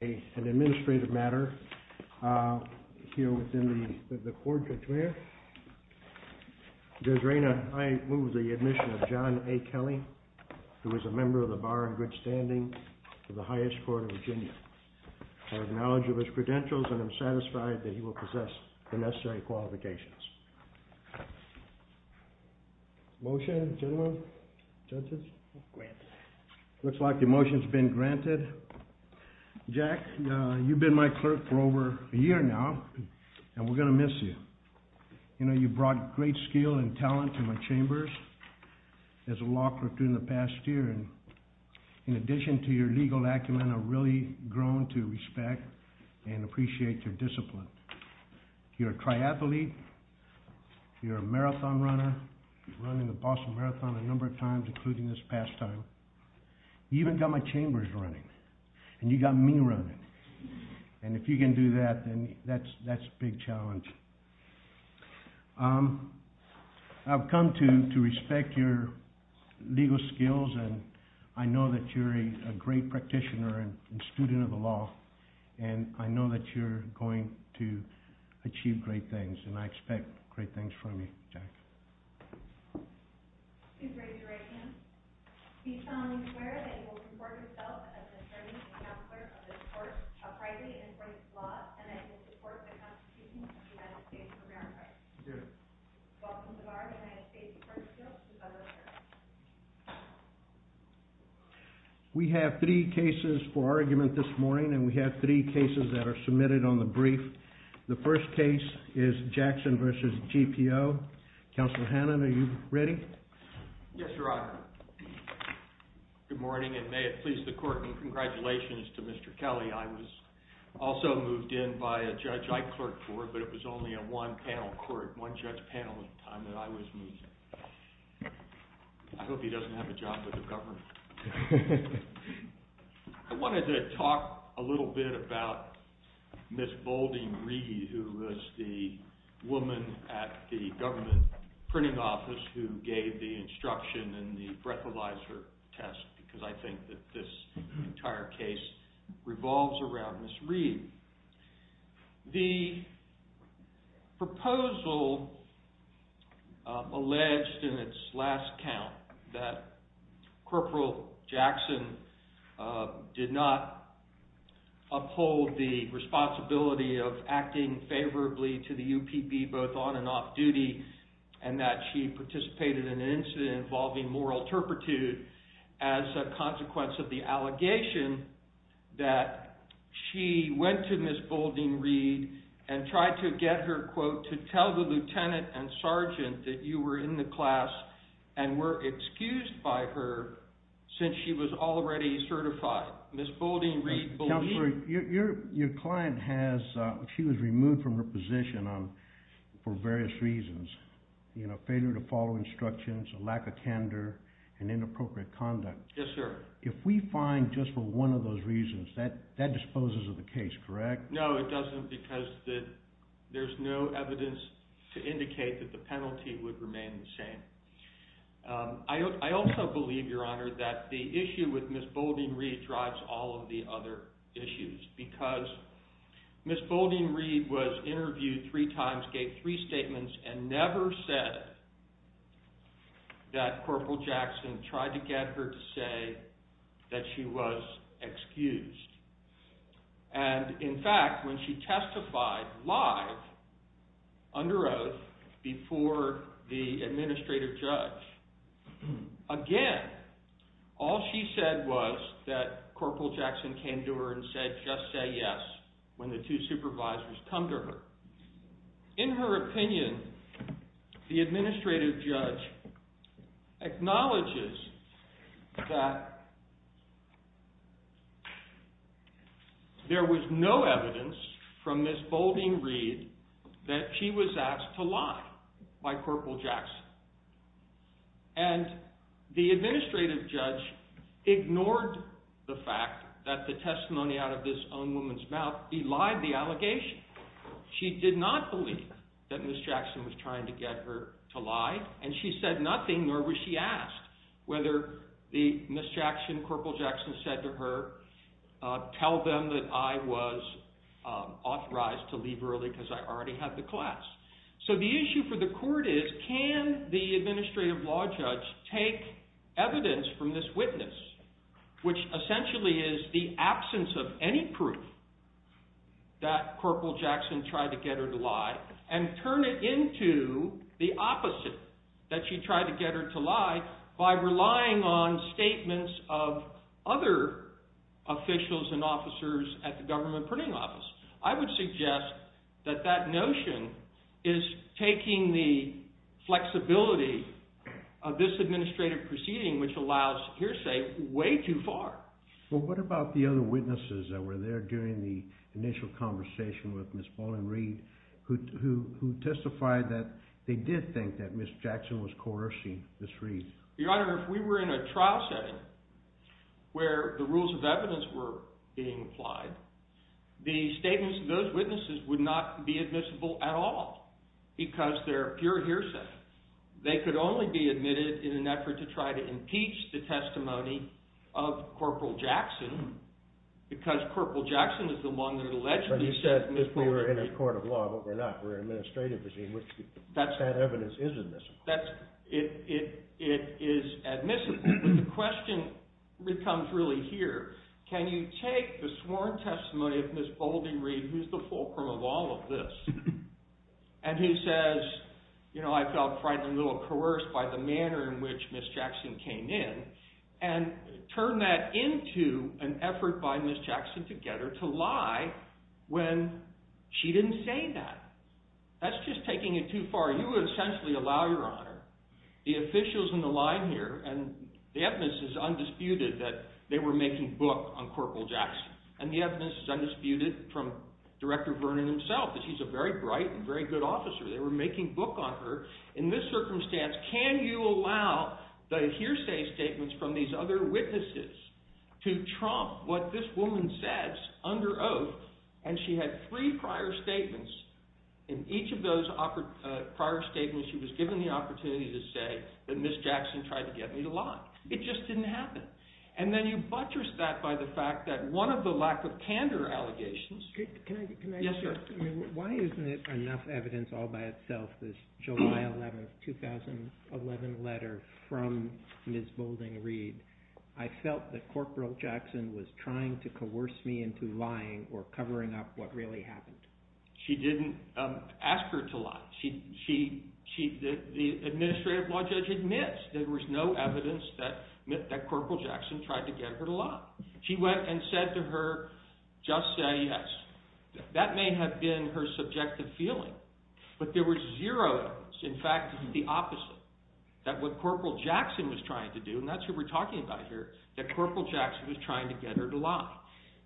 an administrative matter here within the court. There's Raina. I move the admission of John A. Kelly, who is a member of the bar in good standing of the highest Court of Virginia. I acknowledge of his credentials and I'm satisfied that he will possess the necessary qualifications. Motion, gentlemen? Judges? Looks like the motion's been granted. Jack, you've been my clerk for over a year now and we're going to miss you. You know, you brought great skill and talent to my chambers as a law clerk during the past year. In addition to your legal acumen, I've really grown to respect and appreciate your discipline. You're a triathlete, you're a marathon runner, running the Boston Marathon a number of times, including this pastime. You even got my chambers running. And you got me running. And if you can do that, then that's a big challenge. I've come to respect your legal skills and I know that you're a great practitioner and student of the law. And I know that you're going to achieve great things and I expect great things from you, Jack. Please raise your right hand. Be solemnly aware that you will report yourself as an attorney and counselor of this court, a private and in-place law, and I will support the constitution of the United States of America. Welcome to our United States Court of Appeals. You may be seated. We have three cases for argument this morning and we have three cases that are submitted on the brief. The first case is Jackson v. GPO. Counselor Hannan, are you ready? Yes, Your Honor. Good morning and may it please the court and congratulations to Mr. Kelly. I was also moved in by a judge I clerked for, but it was only a one panel court, one judge panel at the time that I was moved in. I hope he doesn't have a job with the government. I wanted to talk a little bit about Ms. Bolden Reed, who was the woman at the government printing office who gave the instruction in the breathalyzer test because I think that this entire case revolves around Ms. Reed. The proposal alleged in its last count that Corporal Jackson did not uphold the responsibility of acting favorably to the UPB both on and off duty and that she participated in an incident involving moral turpitude as a consequence of the allegation that she went to Ms. Bolden Reed and tried to get her to tell the lieutenant and sergeant that you were in the class and were excused by her since she was already certified. Ms. Bolden Reed believed... Counselor, your client has... for various reasons, failure to follow instructions, a lack of candor and inappropriate conduct. Yes, sir. If we find just for one of those reasons that that disposes of the case, correct? No, it doesn't because there's no evidence to indicate that the penalty would remain the same. I also believe, Your Honor, that the issue with Ms. Bolden Reed drives all of the other issues because Ms. Bolden Reed was interviewed three times, gave three statements, and never said that Corporal Jackson tried to get her to say that she was excused. And in fact, when she testified live under oath before the administrative judge, again, all she said was that Corporal Jackson came to her and said, just say yes, when the two supervisors come to her. In her opinion, the administrative judge acknowledges that there was no evidence from Ms. Bolden Reed that she was asked to lie by Corporal Jackson. And the administrative judge ignored the fact that the testimony out of this own woman's mouth belied the allegation. She did not believe that Ms. Jackson was trying to get her to lie, and she said nothing, nor was she asked whether the Ms. Jackson, Corporal Jackson, said to her, tell them that I was authorized to leave early because I already had the class. So the issue for the court is, can the administrative law judge take evidence from this witness, which essentially is the absence of any proof that Corporal Jackson tried to get her to lie, and turn it into the opposite, that she tried to get her to lie by relying on statements of other officials and officers at the Government Printing Office? I would suggest that that notion is taking the flexibility of this administrative proceeding, which allows hearsay, way too far. Well, what about the other witnesses that were there during the initial conversation with Ms. Bolden Reed, who testified that they did think that Ms. Jackson was coercing Ms. Reed? Your Honor, if we were in a trial setting where the rules of evidence were being applied, the statements of those witnesses would not be admissible at all because they're pure hearsay. They could only be admitted in an effort to try to impeach the testimony of Corporal Jackson because Corporal Jackson is the one that allegedly said Ms. Bolden Reed. But you said if we were in a court of law, but we're not, we're an administrative proceeding, which that evidence is admissible. That's... it is admissible. But the question becomes really here. Can you take the sworn testimony of Ms. Bolden Reed, who's the fulcrum of all of this, and who says, you know, I felt frightened and a little coerced by the manner in which Ms. Jackson came in, and turn that into an effort by Ms. Jackson together to lie when she didn't say that? That's just taking it too far. You would essentially allow, Your Honor, the officials in the line here, and the evidence is undisputed that they were making book on Corporal Jackson. And the evidence is undisputed from Director Vernon himself that he's a very bright and very good officer. They were making book on her. In this circumstance, can you allow the hearsay statements from these other witnesses to trump what this woman says under oath? And she had three prior statements. In each of those prior statements, she was given the opportunity to say that Ms. Jackson tried to get me to lie. It just didn't happen. And then you buttress that by the fact that one of the lack of candor allegations... Can I just... Yes, sir. Why isn't it enough evidence all by itself this July 11, 2011 letter from Ms. Boulding Reed? I felt that Corporal Jackson was trying to coerce me into lying or covering up what really happened. She didn't ask her to lie. She... The administrative law judge admits there was no evidence that Corporal Jackson tried to get her to lie. She went and said to her, just say yes. That may have been her subjective feeling, but there was zero evidence. In fact, the opposite. That what Corporal Jackson was trying to do, and that's what we're talking about here, that Corporal Jackson was trying to get her to lie.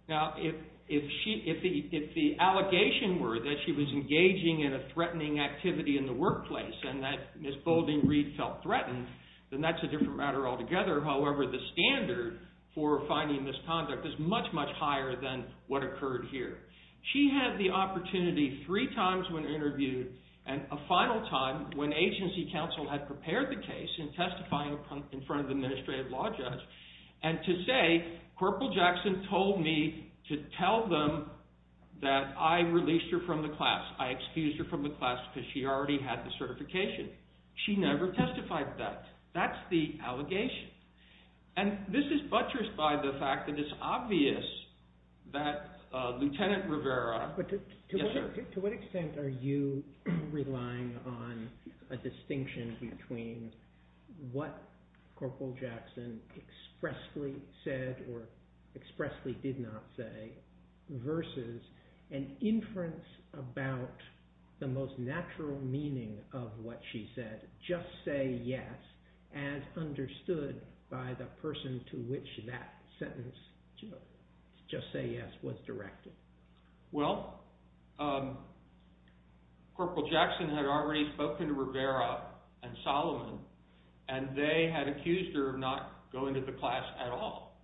Now, if the allegation were that she was engaging in a threatening activity in the workplace and that Ms. Boulding Reed felt threatened, then that's a different matter altogether. However, the standard for finding misconduct is much, much higher than what occurred here. She had the opportunity three times when interviewed and a final time when agency counsel had prepared the case in testifying in front of the administrative law judge and to say, Corporal Jackson told me to tell them that I released her from the class. I excused her from the class because she already had the certification. She never testified that. That's the allegation. And this is buttressed by the fact that it's obvious that Lieutenant Rivera... To what extent are you relying on a distinction between what Corporal Jackson expressly said or expressly did not say versus an inference about the most natural meaning of what she said, just say yes, as understood by the person to which that sentence, just say yes, was directed? Well, Corporal Jackson had already spoken to Rivera and Solomon and they had accused her of not going to the class at all.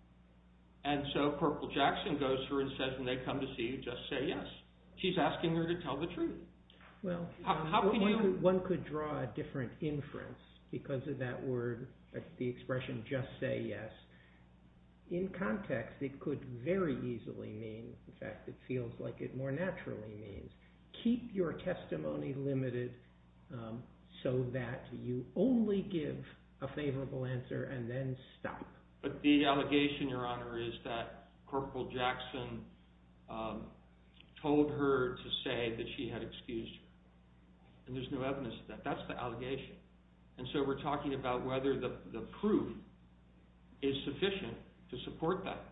And so Corporal Jackson goes to her and says when they come to see you, just say yes. She's asking her to tell the truth. Well, one could draw a different inference because of that word, the expression just say yes. In context, it could very easily mean in fact it feels like it more naturally means keep your testimony limited so that you only give a favorable answer and then stop. But the allegation, Your Honor, is that Corporal Jackson told her to say that she had excused her. And there's no evidence of that. That's the allegation. And so we're talking about whether the proof is sufficient to support that.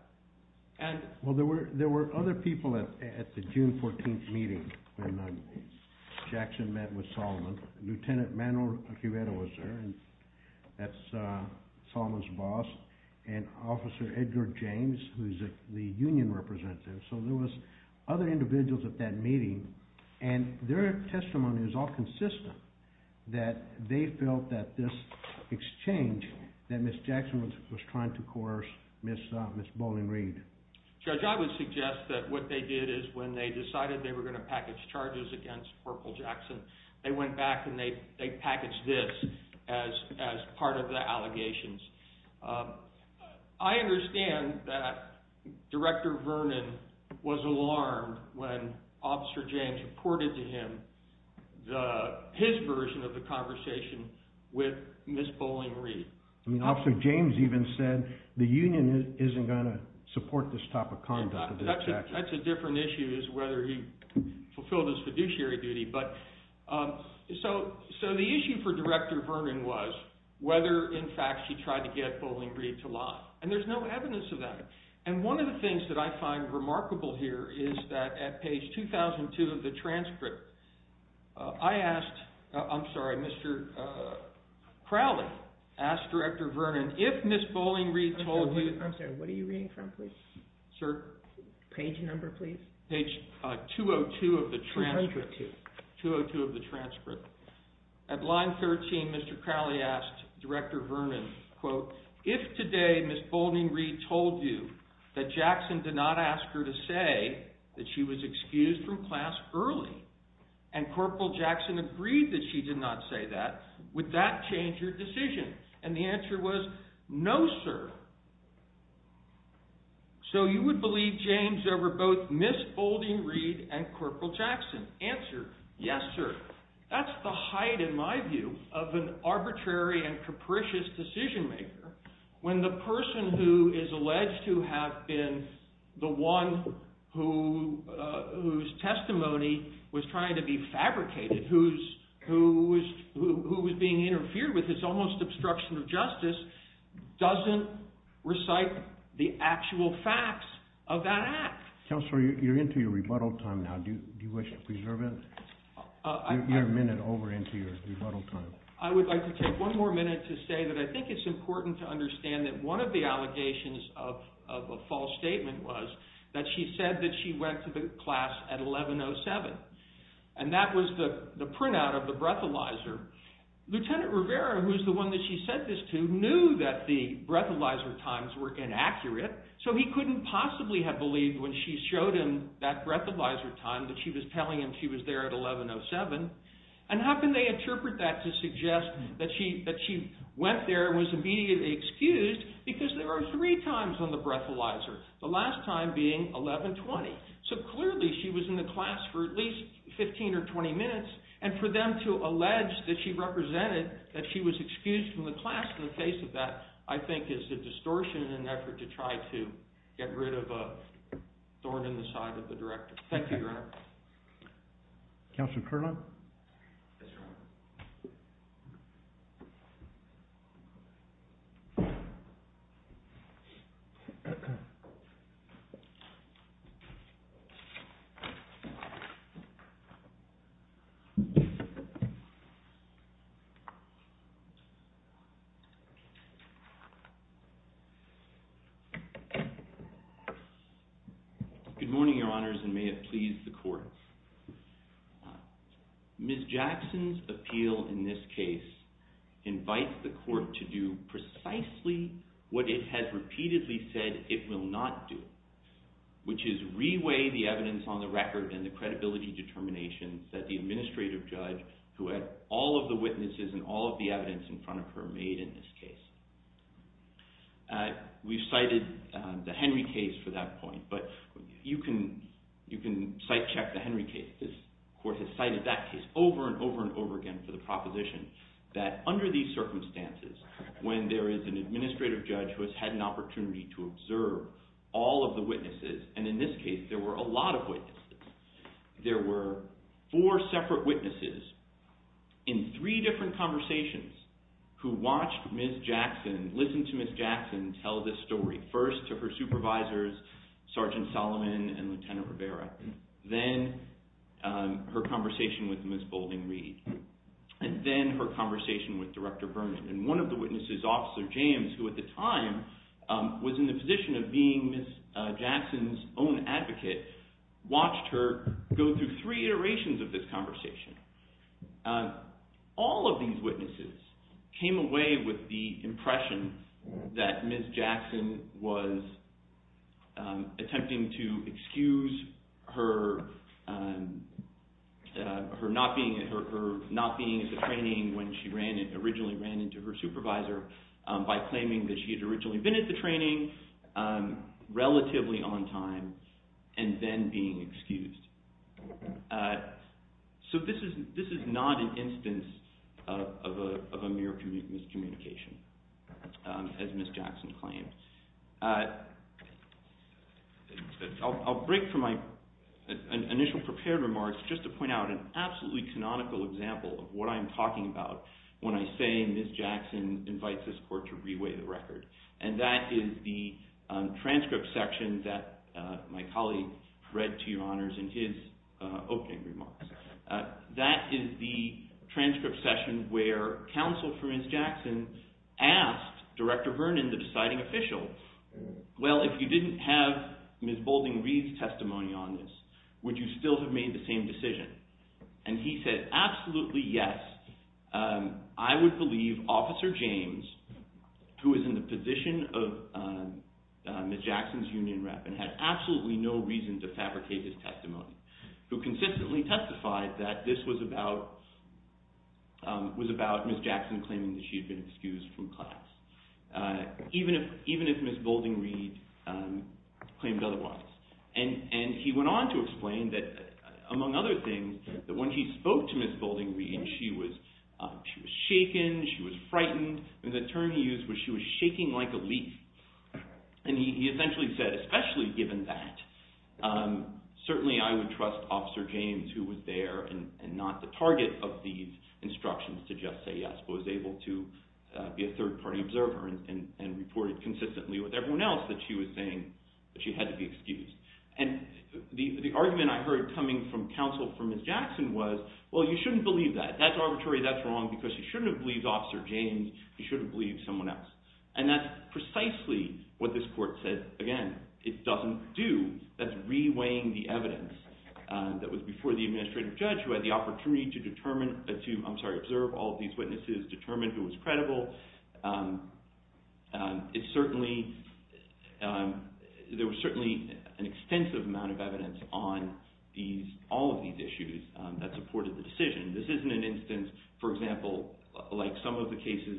Well, there were other people at the June 14th meeting when Jackson met with Solomon. Lieutenant Manuel Quibedo was there and that's Solomon's boss and Officer Edgar James who's the union representative. So there was other individuals at that meeting and their testimony was all consistent that they felt that this exchange, that Ms. Jackson was trying to coerce Ms. Bowling-Reed. Judge, I would suggest that what they did is when they decided they were going to package charges against Corporal Jackson, they went back and they packaged this as part of the allegations. I understand that Director Vernon was alarmed when Officer James reported to him his version of the conversation with Ms. Bowling-Reed. I mean, Officer James even said the union isn't going to support this type of conduct. That's a different issue as to whether he fulfilled his fiduciary duty. So the issue for Director Vernon was whether in fact she tried to get Bowling-Reed to lie. And there's no evidence of that. And one of the things that I find remarkable here is that at page 2002 of the transcript, I asked, I'm sorry, Mr. Crowley asked Director Vernon if Ms. Bowling-Reed told you... I'm sorry, what are you reading from, please? Sir? Page number, please. Page 202 of the transcript. 202. 202 of the transcript. At line 13, Mr. Crowley asked Director Vernon, quote, if today Ms. Bowling-Reed told you that Jackson did not ask her to say that she was excused from class early and Corporal Jackson agreed that she did not say that, would that change her decision? And the answer was, no, sir. So you would believe change over both Ms. Bowling-Reed and Corporal Jackson? Answer, yes, sir. That's the height, in my view, of an arbitrary and capricious decision maker when the person who is alleged to have been the one whose testimony was trying to be fabricated, who was being interfered with, who was almost obstruction of justice, doesn't recite the actual facts of that act. Counselor, you're into your rebuttal time now. Do you wish to preserve it? You're a minute over into your rebuttal time. I would like to take one more minute to say that I think it's important to understand that one of the allegations of a false statement was that she said that she went to the class at 11.07, and that was the printout of the breathalyzer. Lieutenant Rivera, who is the one that she said this to, knew that the breathalyzer times were inaccurate, so he couldn't possibly have believed when she showed him that breathalyzer time that she was telling him she was there at 11.07. And how can they interpret that to suggest that she went there and was immediately excused because there were three times on the breathalyzer, the last time being 11.20. So clearly she was in the class for at least 15 or 20 minutes, and for them to allege that she represented that she was excused from the class in the face of that, I think is a distortion in an effort to try to get rid of a thorn in the side of the director. Thank you, Your Honor. Counselor Kerlan? Yes, Your Honor. Good morning, Your Honors, and may it please the Court. Ms. Jackson's appeal in this case invites the Court to do precisely what it has repeatedly said it will not do, which is re-weigh the evidence on the record Ms. Jackson's appeal, in this case, who had all of the witnesses and all of the evidence in front of her made in this case. We've cited the Henry case for that point, but you can sight-check the Henry case. This Court has cited that case over and over and over again for the proposition that under these circumstances, when there is an administrative judge who has had an opportunity to observe all of the witnesses, and in this case there were a lot of witnesses, there were four separate witnesses in three different conversations who watched Ms. Jackson, listened to Ms. Jackson tell this story, first to her supervisors, Sergeant Solomon and Lieutenant Rivera, then her conversation with Ms. Boulding-Reed, and then her conversation with Director Vernon. And one of the witnesses, Officer James, who at the time was in the position of being Ms. Jackson's own advocate, watched her go through three iterations of this conversation. All of these witnesses came away with the impression that Ms. Jackson was attempting to excuse her not being at the training when she originally ran into her supervisor by claiming that she had originally been at the training, relatively on time, and then being excused. So this is not an instance of a mere miscommunication, as Ms. Jackson claimed. I'll break from my initial prepared remarks just to point out an absolutely canonical example of what I'm talking about when I say Ms. Jackson invites this Court to re-weigh the record. And that is the transcript section that my colleague read to Your Honors in his opening remarks. That is the transcript session where counsel for Ms. Jackson asked Director Vernon, the deciding official, well, if you didn't have Ms. Boulding-Reed's testimony on this, would you still have made the same decision? And he said, absolutely yes. I would believe Officer James, who is in the position of Ms. Jackson's union rep and had absolutely no reason to fabricate his testimony, who consistently testified that this was about Ms. Jackson claiming that she had been excused from class, even if Ms. Boulding-Reed claimed otherwise. And he went on to explain that, among other things, that when he spoke to Ms. Boulding-Reed, she was shaken, she was frightened, and the term he used was she was shaking like a leaf. And he essentially said, especially given that, certainly I would trust Officer James who was there and not the target of these instructions to just say yes, but was able to be a third-party observer and reported consistently with everyone else that she was saying that she had to be excused. And the argument I heard coming from counsel for Ms. Jackson was, well, you shouldn't believe that. That's arbitrary, that's wrong, because you shouldn't have believed Officer James, you should have believed someone else. And that's precisely what this court said. Again, it doesn't do, that's re-weighing the evidence that was before the administrative judge who had the opportunity to determine, I'm sorry, observe all of these witnesses, determine who was credible. It certainly, there was certainly an extensive amount of evidence on all of these issues that supported the decision. This isn't an instance, for example, like some of the cases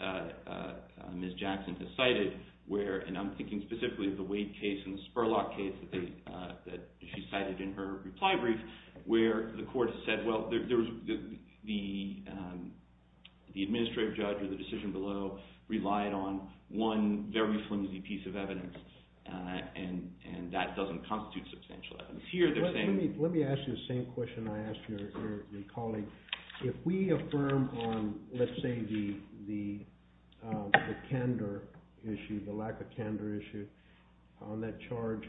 that Ms. Jackson has cited where, and I'm thinking specifically of the Wade case and the Spurlock case that she cited in her reply brief, where the court said, well, the administrative judge or the decision below relied on one very flimsy piece of evidence and that doesn't constitute substantial evidence. Let me ask you the same question I asked your colleague. If we affirm on, let's say, the candor issue, the lack of candor issue on that charge,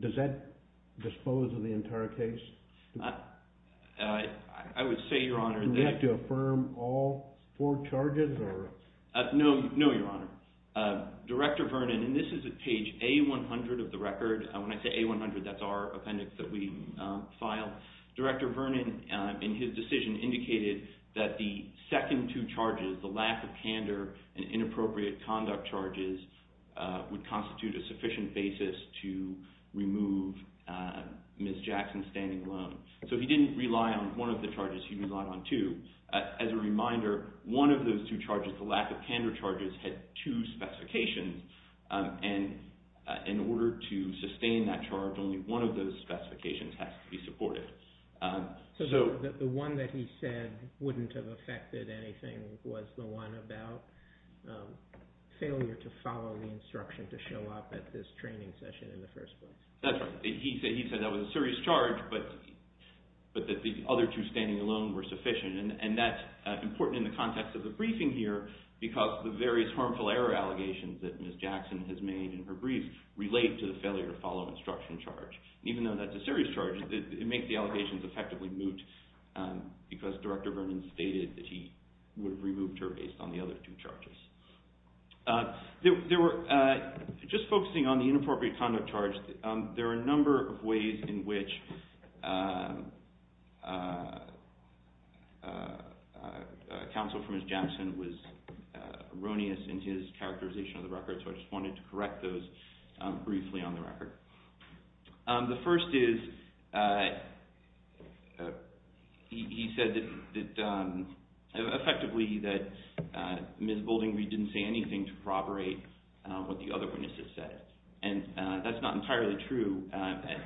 does that dispose of the entire case? I would say, Your Honor, Do we have to affirm all four charges? No, Your Honor. Director Vernon, and this is at page A100 of the record, when I say A100, that's our appendix that we file. Director Vernon, in his decision, indicated that the second two charges, the lack of candor and inappropriate conduct charges, would constitute a sufficient basis to remove Ms. Jackson's standing alone. So he didn't rely on one of the charges, he relied on two. As a reminder, one of those two charges, the lack of candor charges, had two specifications and in order to sustain that charge, only one of those specifications has to be supported. So the one that he said wouldn't have affected anything was the one about failure to follow the instruction to show up at this training session in the first place? That's right. He said that was a serious charge, but that the other two standing alone were sufficient and that's important in the context of the briefing here because the various harmful error allegations that Ms. Jackson has made in her brief relate to the failure to follow instruction charge. Even though that's a serious charge, it makes the allegations effectively moot because Director Vernon stated that he would have removed her based on the other two charges. Just focusing on the inappropriate conduct charge, there are a number of ways in which counsel for Ms. Jackson was erroneous in his characterization of the record, so I just wanted to correct those briefly on the record. The first is he said that effectively that Ms. Bouldingby didn't say anything to corroborate what the other witnesses said and that's not entirely true.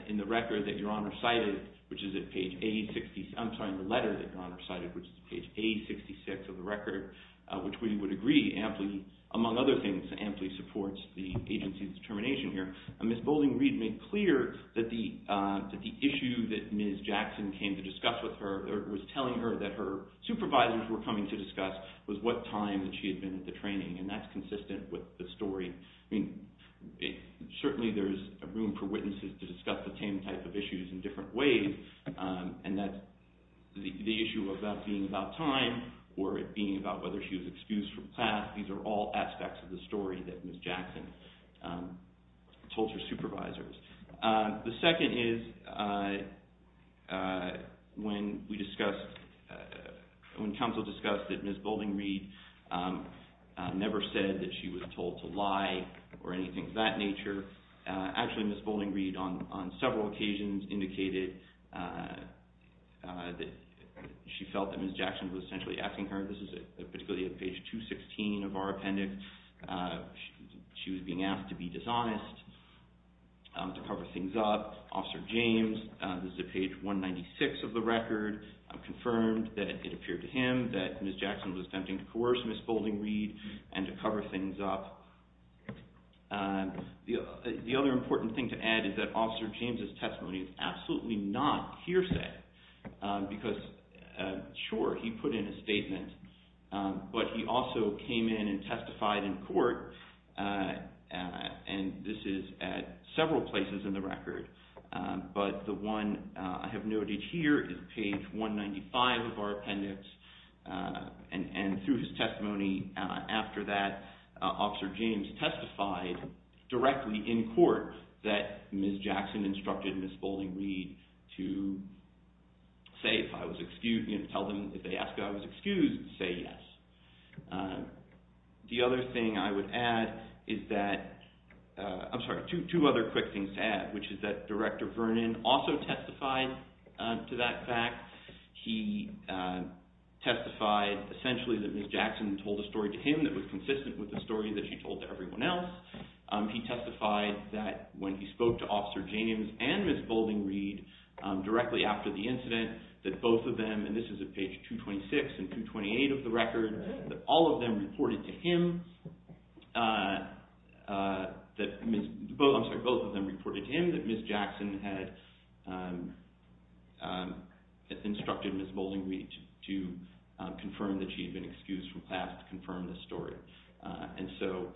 In the record that Your Honor cited, which is at page A66, I'm sorry, in the letter that Your Honor cited, which is page A66 of the record, which we would agree amply, among other things, amply supports the agency's determination here, Ms. Bouldingby made clear that the issue that Ms. Jackson came to discuss with her or was telling her that her supervisors were coming to discuss was what time that she had been at the training and that's consistent with the story. Certainly there's room for witnesses to discuss the same type of issues in different ways and that the issue of that being about time or it being about whether she was excused from class, these are all aspects of the story that Ms. Jackson told her supervisors. The second is when counsel discussed that Ms. Bouldingby never said that she was told to lie or anything of that nature, actually Ms. Bouldingby on several occasions indicated that she felt that Ms. Jackson was essentially asking her, this is particularly at page 216 of our appendix, she was being asked to be dishonest, to cover things up. Officer James, this is at page 196 of the record, confirmed that it appeared to him that Ms. Jackson was attempting to coerce Ms. Bouldingby and to cover things up. The other important thing to add is that Officer James' testimony is absolutely not hearsay because sure, he put in a statement, but he also came in and testified in court and this is at several places in the record, but the one I have noted here is page 195 of our appendix and through his testimony after that, Officer James testified directly in court that Ms. Jackson instructed Ms. Bouldingby to say if I was excused, tell them if they ask if I was excused, say yes. The other thing I would add is that, I'm sorry, two other quick things to add, which is that Director Vernon also testified to that fact. He testified essentially that Ms. Jackson told a story to him that was consistent with the story that she told to everyone else. He testified that when he spoke to Officer James and Ms. Bouldingby directly after the incident, that both of them, and this is at page 226 and 228 of the record, that all of them reported to him that Ms., I'm sorry, both of them reported to him that Ms. Jackson had instructed Ms. Bouldingby to confirm that she had been excused from class to confirm the story. And so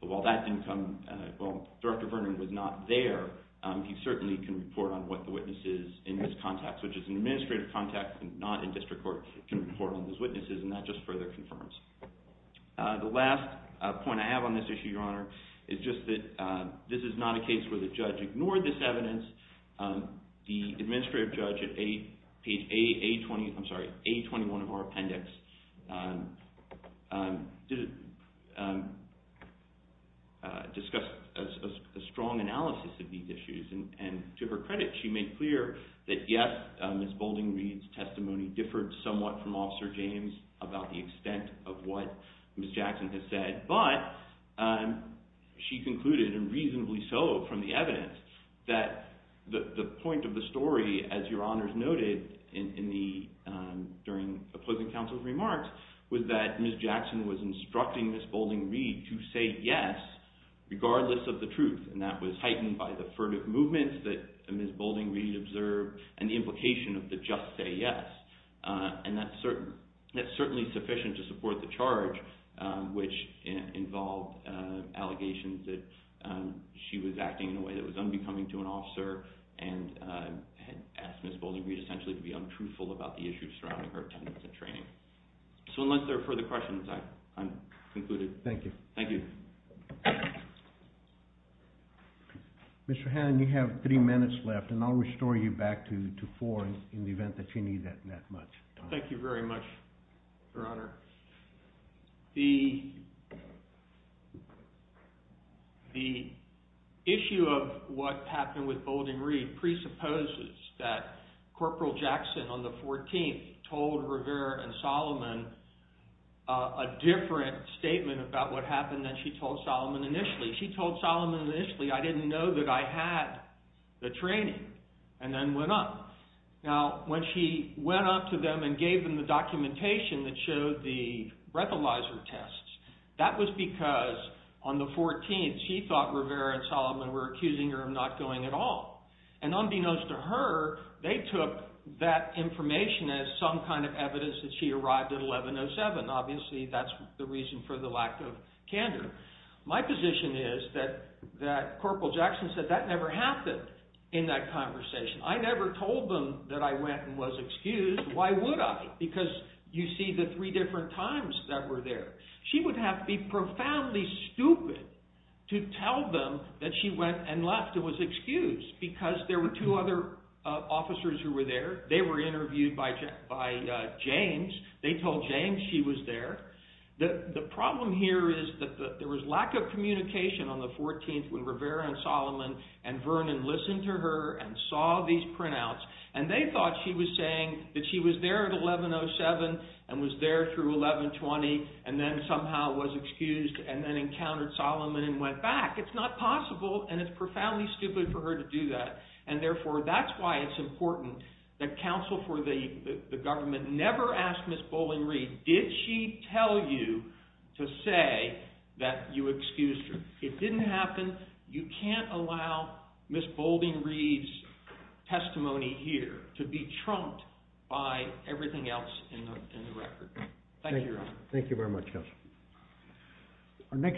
while that didn't come, well, Director Vernon was not there, he certainly can report on what the witness is in this context, which is an administrative context, not in district court, can report on those witnesses, and that just further confirms. The last point I have on this issue, Your Honor, is just that this is not a case where the judge ignored this evidence. The administrative judge at page A20, I'm sorry, A21 of our appendix, discussed a strong analysis of these issues, and to her credit, she made clear that yes, Ms. Bouldingby's testimony differed somewhat from Officer James about the extent of what Ms. Jackson had said, but she concluded, and reasonably so from the evidence, that the point of the story, as Your Honor has noted, during opposing counsel's remarks, was that Ms. Jackson was instructing Ms. Bouldingby to say yes, regardless of the truth, and that was heightened by the furtive movements that Ms. Bouldingby observed and the implication of the just say yes. And that's certainly sufficient to support the charge, which involved allegations that she was acting in a way that was unbecoming to an officer and had asked Ms. Bouldingby essentially to be untruthful about the issues surrounding her attendance at training. So unless there are further questions, I'm concluded. Thank you. Thank you. Mr. Hannon, you have three minutes left, and I'll restore you back to four in the event that you need that much. Thank you very much, Your Honor. The issue of what happened with Bouldingby presupposes that Corporal Jackson on the 14th told Rivera and Solomon a different statement about what happened than she told Solomon initially. She told Solomon initially, I didn't know that I had the training, and then went on. Now, when she went on to them and gave them the documentation that showed the breathalyzer tests, that was because on the 14th she thought Rivera and Solomon were accusing her of not going at all. And unbeknownst to her, they took that information as some kind of evidence that she arrived at 1107. Obviously, that's the reason for the lack of candor. My position is that Corporal Jackson said, that never happened in that conversation. I never told them that I went and was excused. Why would I? Because you see the three different times that were there. She would have to be profoundly stupid to tell them that she went and left and was excused because there were two other officers who were there. They were interviewed by James. They told James she was there. The problem here is that there was lack of communication on the 14th when Rivera and Solomon and Vernon listened to her and saw these printouts, and they thought she was saying that she was there at 1107 and was there through 1120 and then somehow was excused and then encountered Solomon and went back. It's not possible, and it's profoundly stupid for her to do that. And therefore, that's why it's important that counsel for the government never ask Ms. Boulding-Reed, did she tell you to say that you excused her? It didn't happen. You can't allow Ms. Boulding-Reed's testimony here to be trumped by everything else in the record. Thank you, Your Honor.